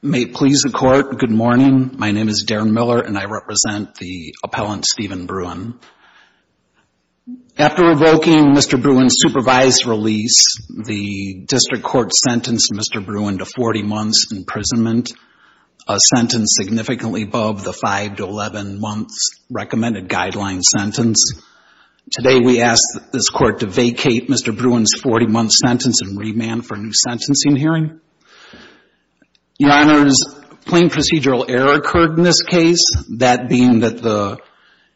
May it please the Court, good morning. My name is Darren Miller and I represent the appellant Steven Bruhn. After revoking Mr. Bruhn's supervised release, the District Court is currently above the 5-11 months recommended guideline sentence. Today we ask this Court to vacate Mr. Bruhn's 40-month sentence and remand for a new sentencing hearing. Your Honors, plain procedural error occurred in this case, that being that the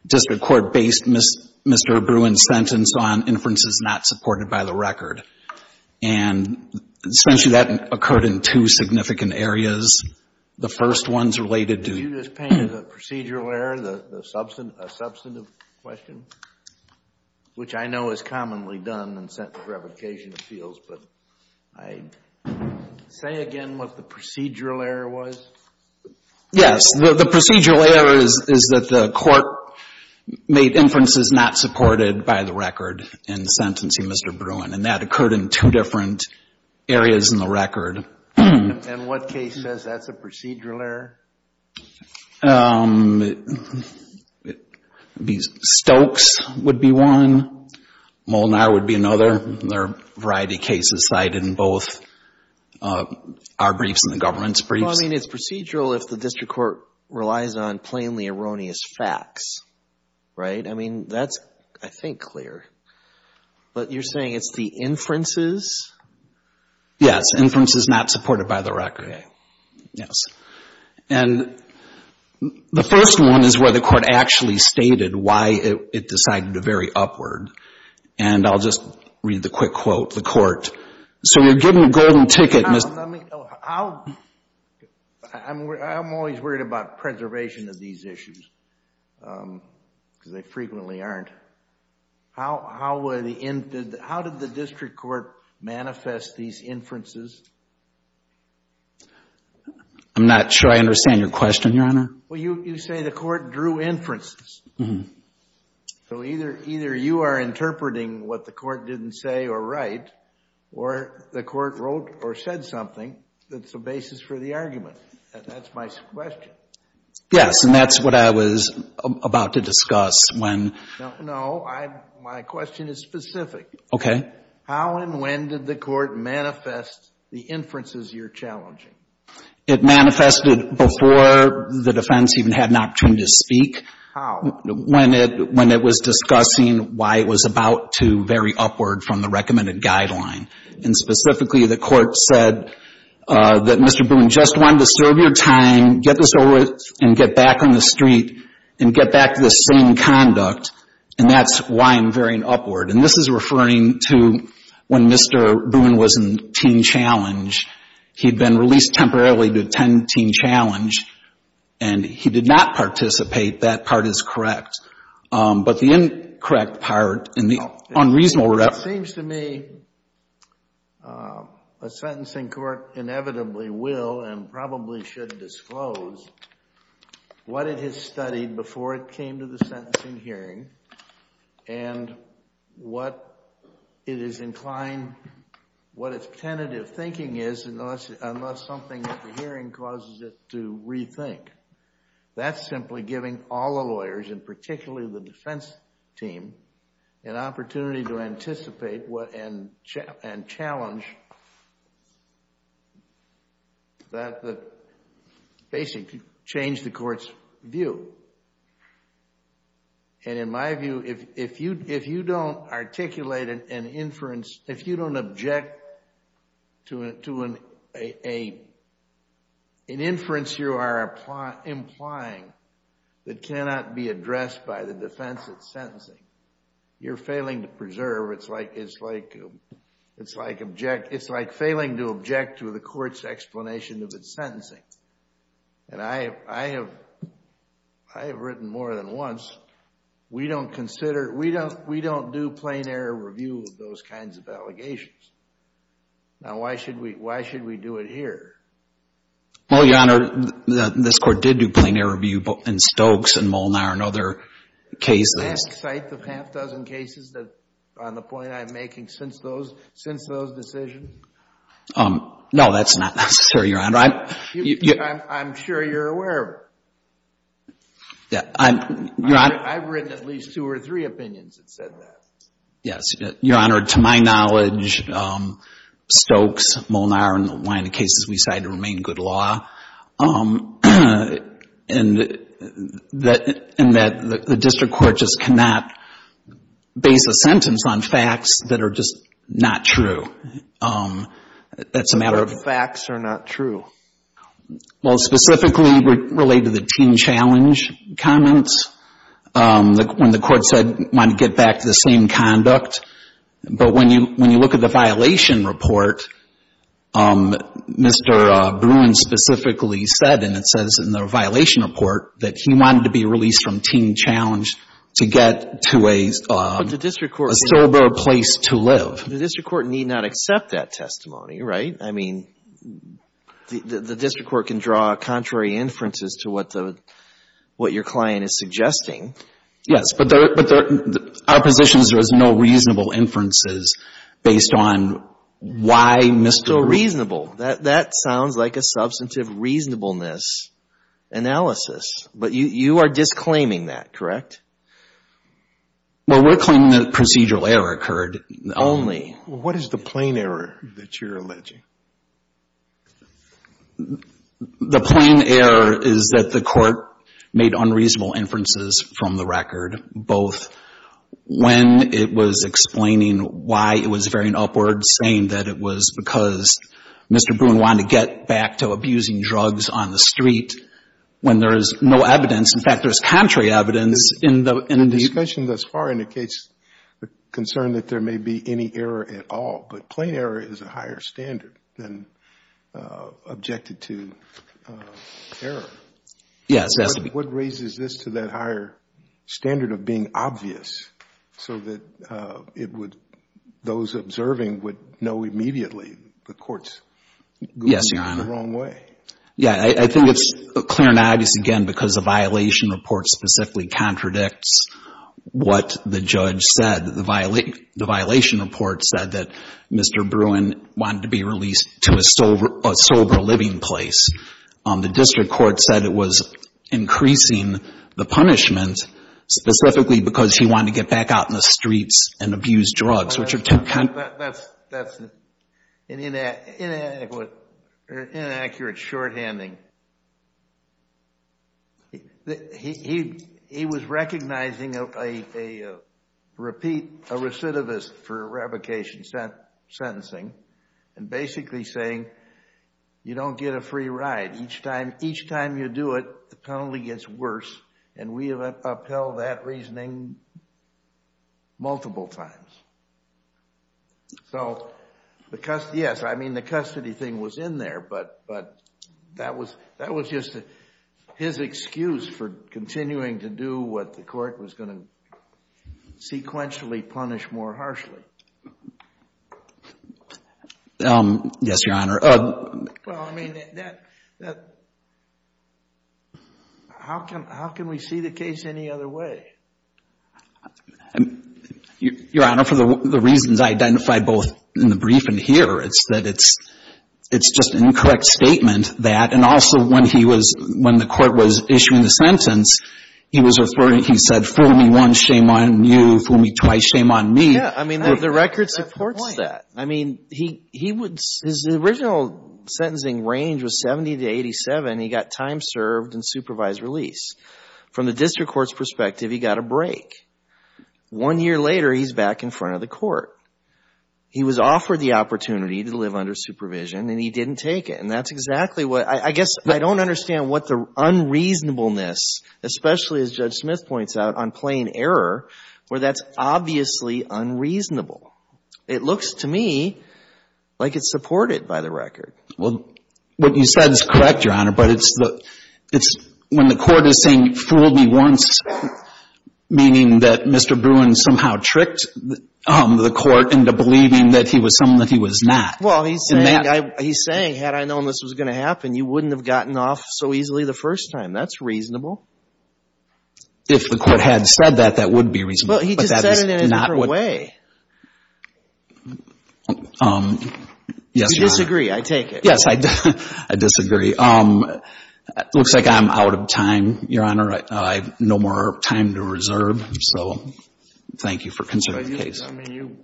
District Court based Mr. Bruhn's sentence on inferences not supported by the record. And essentially that occurred in two significant areas. The first one is related to You just painted the procedural error, the substantive question, which I know is commonly done in sentence revocation fields, but say again what the procedural error was? Yes, the procedural error is that the Court made inferences not supported by the record in sentencing Mr. Bruhn and that occurred in two different areas in the record. And what case says that's a procedural error? Stokes would be one, Molnar would be another. There are a variety of cases cited in both our briefs and the government's briefs. Well, I mean, it's procedural if the District Court relies on plainly erroneous facts, right? I mean, that's, I think, clear. But you're saying it's the inferences? Yes, inferences not supported by the record, yes. And the first one is where the Court actually stated why it decided to vary upward. And I'll just read the quick quote, the Court. So you're getting a golden ticket, Mr. I'm always worried about preservation of these issues because they frequently aren't. How did the District Court manifest these inferences? I'm not sure I understand your question, Your Honor. Well, you say the Court drew inferences. So either you are interpreting what the Court didn't say or write, or the Court wrote or said something that's the basis for the argument. And that's my question. Yes, and that's what I was about to discuss when... No, my question is specific. Okay. How and when did the Court manifest the inferences you're challenging? It manifested before the defense even had an opportunity to speak. How? When it was discussing why it was about to vary upward from the recommended guideline. And specifically, the Court said that Mr. Boone just wanted to serve your time, get this over with, and get back on the street and get back to the same conduct. And that's why I'm varying upward. And this is referring to when Mr. Boone was in teen challenge. He'd been released temporarily to attend teen challenge. And he did not participate. That part is correct. But the incorrect part and the unreasonable reference... It seems to me a sentencing court inevitably will and probably should disclose what it has studied before it came to the sentencing hearing and what it is inclined, what its tentative thinking is, unless something at the hearing causes it to rethink. That's simply giving all the lawyers, and particularly the defense team, an opportunity to anticipate and challenge that basically change the Court's view. And in my view, if you don't articulate an inference, if you don't object to an inference you are implying that cannot be addressed by the defense at sentencing, you're failing to preserve. It's like failing to object to the Court's explanation of its sentencing. And I have written more than once, we don't consider, we don't do plain error review of those kinds of allegations. Now, why should we do it here? Well, Your Honor, this Court did do plain error review in Stokes and Molnar and other cases. The last site of half a dozen cases on the point I'm making since those decisions? No, that's not necessary, Your Honor. I'm sure you're aware. I've written at least two or three opinions that said that. Yes, Your Honor. To my knowledge, Stokes, Molnar, and one of the cases we decided to remain good law, and that the District Court just cannot base a sentence on facts that are just not true. It's a matter of... Facts are not true. Well, specifically related to the teen challenge comments, when the Court said it wanted to get back to the same conduct. But when you look at the violation report, Mr. Bruin specifically said, and it says in the violation report, that he wanted to be released from teen challenge to get to a sober place to live. The District Court need not accept that testimony, right? I mean, the District Court can draw contrary inferences to what your client is suggesting. Yes, but our position is there is no reasonable inferences based on why Mr. Bruin... No reasonable. That sounds like a substantive reasonableness analysis. But you are disclaiming that, correct? Well, we're claiming that procedural error occurred. Only. What is the plain error that you're alleging? The plain error is that the Court made unreasonable inferences from the record, both when it was explaining why it was veering upward, saying that it was because Mr. Bruin wanted to get back to abusing drugs on the street, when there is no evidence. In fact, there's contrary evidence in the... The discussion thus far indicates the concern that there may be any error at all. But plain error is a higher standard. And objected to error. What raises this to that higher standard of being obvious, so that it would... Those observing would know immediately the Court's going the wrong way. Yeah, I think it's clear and obvious again, because the violation report specifically contradicts what the judge said. The violation report said that Mr. Bruin wanted to be released to a sober living place. The district court said it was increasing the punishment specifically because he wanted to get back out in the streets and abuse drugs, which are... Well, that's an inaccurate shorthanding. He was recognizing a repeat, a recidivist for revocation sentencing. And basically saying, you don't get a free ride. Each time you do it, the penalty gets worse. And we have upheld that reasoning multiple times. So, the custody... Yes, I mean, the custody thing was in there. But that was just his excuse for continuing to do what the court was going to sequentially punish more harshly. Yes, Your Honor. Well, I mean, how can we see the case any other way? Your Honor, for the reasons identified both in the brief and here, it's that it's just an incorrect statement that... And also, when the court was issuing the sentence, he was referring... He said, fool me once, shame on you. Fool me twice, shame on me. Yeah, I mean, the record supports that. I mean, his original sentencing range was 70 to 87. He got time served and supervised release. From the district court's perspective, he got a break. One year later, he's back in front of the court. He was offered the opportunity to live under supervision, and he didn't take it. And that's exactly what... I guess I don't understand what the unreasonableness, especially as Judge Smith points out, on plain error, where that's obviously unreasonable. It looks to me like it's supported by the record. Well, what you said is correct, Your Honor, but it's when the court is saying, fool me once, meaning that Mr. Bruin somehow tricked the court into believing that he was someone that he was not. Well, he's saying, had I known this was going to happen, you wouldn't have gotten off so easily the first time. That's reasonable. If the court had said that, that would be reasonable. But he just said it in a different way. I disagree. I take it. Yes, I disagree. Looks like I'm out of time, Your Honor. I have no more time to reserve. So thank you for considering the case. I mean,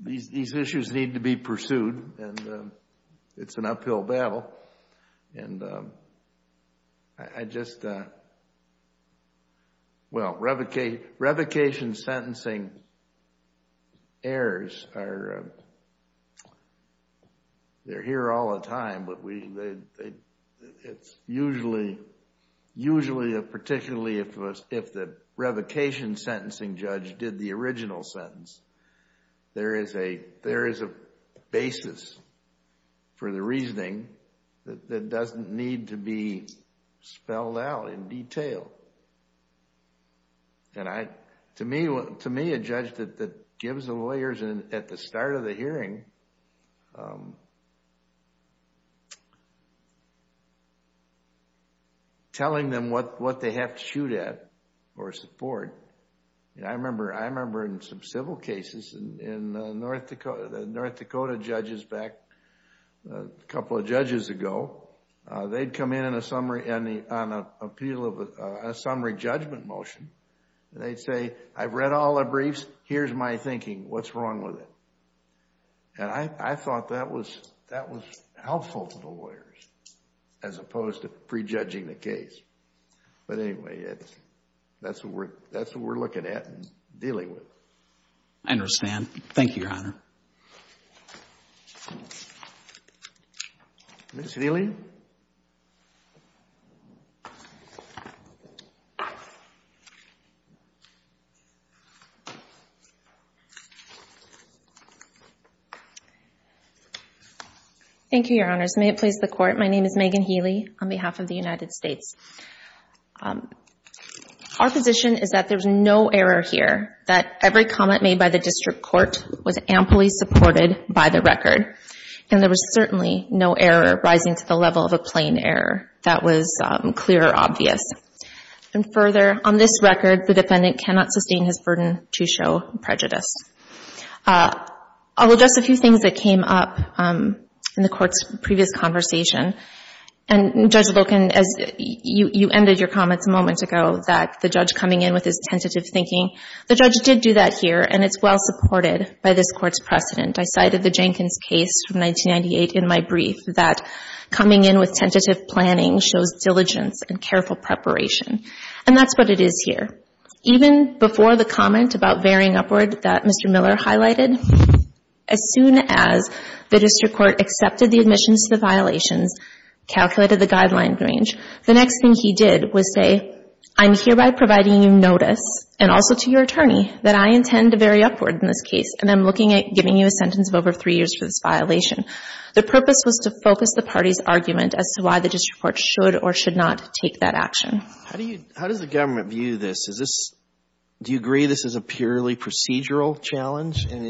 these issues need to be pursued, and it's an uphill battle. And I just, well, revocation sentencing errors are, they're here all the time, but it's usually, usually, particularly if the revocation sentencing judge did the original sentence, there is a basis for the reasoning that doesn't need to be spelled out in detail. And to me, a judge that gives the lawyers at the start of the hearing, telling them what they have to shoot at or support, I remember in some civil cases in North Dakota, the North Dakota judges back a couple of judges ago, they'd come in on a summary judgment motion. They'd say, I've read all the briefs. Here's my thinking. What's wrong with it? And I thought that was helpful to the lawyers as opposed to prejudging the case. But anyway, that's what we're looking at and dealing with. I understand. Thank you, Your Honor. Ms. Healy? Thank you, Your Honors. May it please the Court. My name is Megan Healy on behalf of the United States. Our position is that there's no error here, that every comment made by the district court was amply supported by the record. And there was certainly no error rising to the level of a plain error that was clear or obvious. And further, on this record, the defendant cannot sustain his burden to show prejudice. I'll address a few things that came up in the Court's previous conversation. And Judge Wilkin, you ended your comments a moment ago that the judge coming in with his tentative thinking. The judge did do that here, and it's well supported by this Court's precedent. I cited the Jenkins case from 1998 in my brief that coming in with tentative planning shows diligence and careful preparation. And that's what it is here. Even before the comment about varying upward that Mr. Miller highlighted, as soon as the district court accepted the admissions to the violations, calculated the guideline range, the next thing he did was say, I'm hereby providing you notice, and also to your attorney, that I intend to vary upward in this case, and I'm looking at giving you a sentence of over three years for this violation. The purpose was to focus the party's argument as to why the district court should or should not take that action. How do you, how does the government view this? Is this, do you agree this is a purely procedural challenge? Your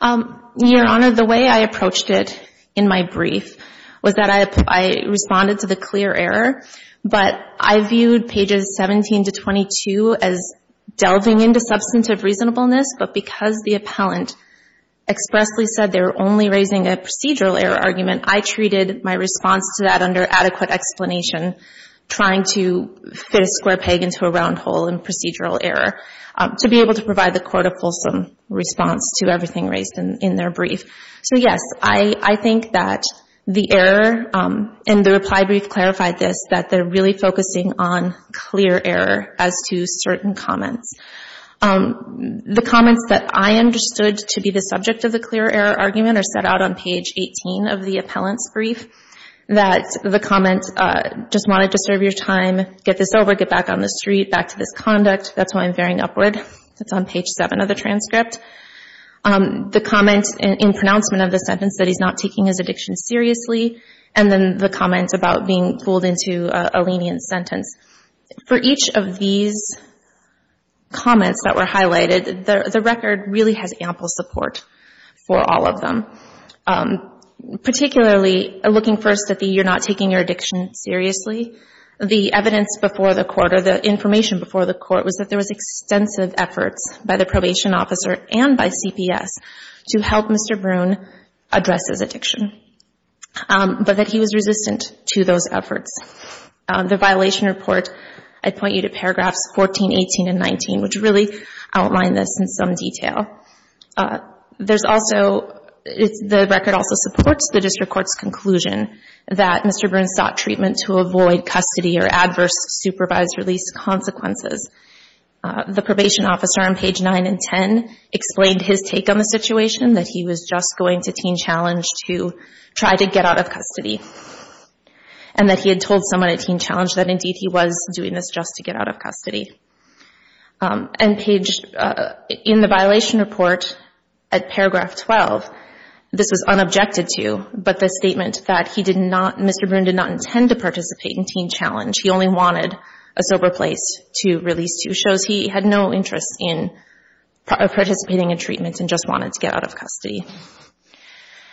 Honor, the way I approached it in my brief was that I responded to the clear error, but I viewed pages 17 to 22 as delving into substantive reasonableness, but because the appellant expressly said they were only raising a procedural error argument, I treated my response to that under adequate explanation, trying to fit a square peg into a round hole in procedural error to be able to provide the court a fulsome response to everything raised in their brief. So yes, I think that the error in the reply brief clarified this, that they're really focusing on clear error as to certain comments. The comments that I understood to be the subject of the clear error argument are set out on page 18 of the appellant's brief, that the comment, just wanted to serve your time, get this over, get back on the street, back to this conduct, that's why I'm varying upward. That's on page seven of the transcript. The comment in pronouncement of the sentence that he's not taking his addiction seriously, and then the comments about being fooled into a lenient sentence. For each of these comments that were highlighted, the record really has ample support for all of them, particularly looking first at the you're not taking your addiction seriously. The evidence before the court, or the information before the court, was that there was extensive efforts by the probation officer and by CPS to help Mr. Broon address his addiction, but that he was resistant to those efforts. The violation report, I point you to paragraphs 14, 18, and 19, which really outline this in some detail. There's also, the record also supports the district court's conclusion that Mr. Broon sought treatment to avoid custody or adverse supervised release consequences. The probation officer on page nine and 10 explained his take on the situation, that he was just going to Teen Challenge to try to get out of custody, and that he had told someone at Teen Challenge that indeed he was doing this just to get out of custody. In the violation report at paragraph 12, this was unobjected to, but the statement that he did not, Mr. Broon did not intend to participate in Teen Challenge. He only wanted a sober place to release to. Shows he had no interest in participating in treatment and just wanted to get out of custody.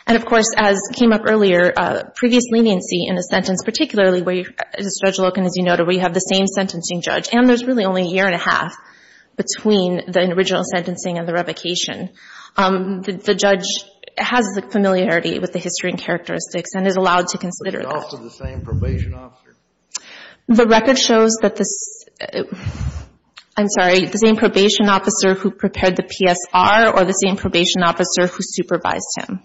And of course, as came up earlier, previous leniency in a sentence, particularly where, Judge Loken, as you noted, where you have the same sentencing judge, and there's really only a year and a half between the original sentencing and the revocation, the judge has the familiarity with the history and characteristics and is allowed to consider that. The record shows that this, I'm sorry, the same probation officer who prepared the PSR or the same probation officer who supervised him.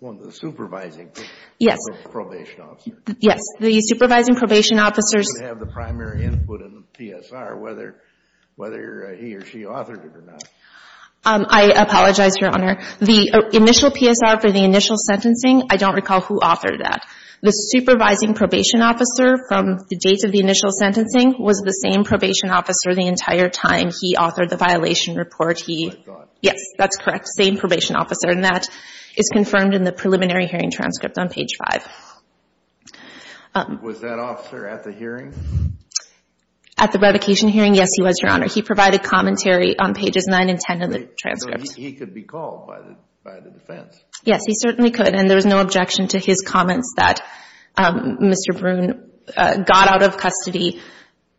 One of the supervising probation officers. Yes, the supervising probation officers. Who would have the primary input in the PSR, whether he or she authored it or not. I apologize, Your Honor. The initial PSR for the initial sentencing, I don't recall who authored that. The supervising probation officer from the date of the initial sentencing was the same probation officer the entire time he authored the violation report. Yes, that's correct. Same probation officer. And that is confirmed in the preliminary hearing transcript on page 5. Was that officer at the hearing? At the revocation hearing, yes, he was, Your Honor. He provided commentary on pages 9 and 10 of the transcript. He could be called by the defense. Yes, he certainly could. And there was no objection to his comments that Mr. Broon got out of custody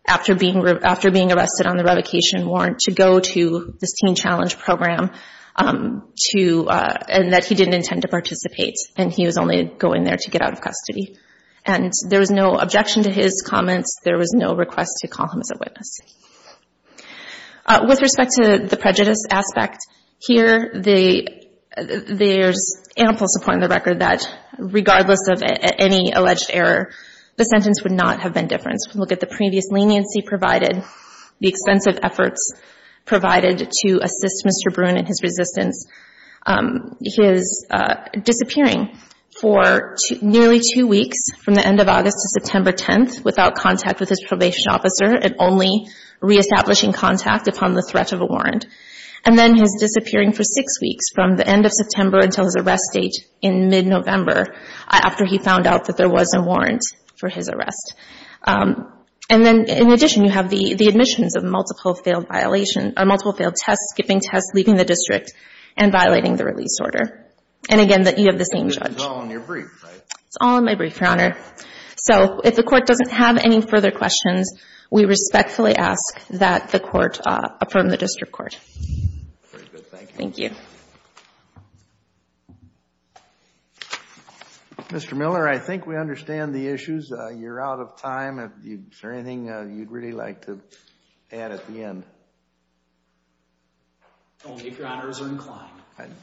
after being arrested on the revocation warrant to go to this Teen Challenge program and that he didn't intend to participate and he was only going there to get out of custody. And there was no objection to his comments. There was no request to call him as a witness. With respect to the prejudice aspect, here there's ample support in the record that regardless of any alleged error, the sentence would not have been differenced. We look at the previous leniency provided, the extensive efforts provided to assist Mr. Broon in his resistance, his disappearing for nearly two weeks from the end of August to September 10th without contact with his probation officer and only reestablishing contact upon the threat of a warrant. And then his disappearing for six weeks from the end of September until his arrest date in mid-November after he found out that there was a warrant for his arrest. And then in addition, you have the admissions of multiple failed violation or multiple failed tests, skipping tests, leaving the district and violating the release order. And again, that you have the same judge. It's all in your brief, right? It's all in my brief, Your Honor. So if the court doesn't have any further questions, we respectfully ask that the court affirm the district court. Very good, thank you. Mr. Miller, I think we understand the issues. You're out of time. Is there anything you'd really like to add at the end? Only if Your Honors are inclined.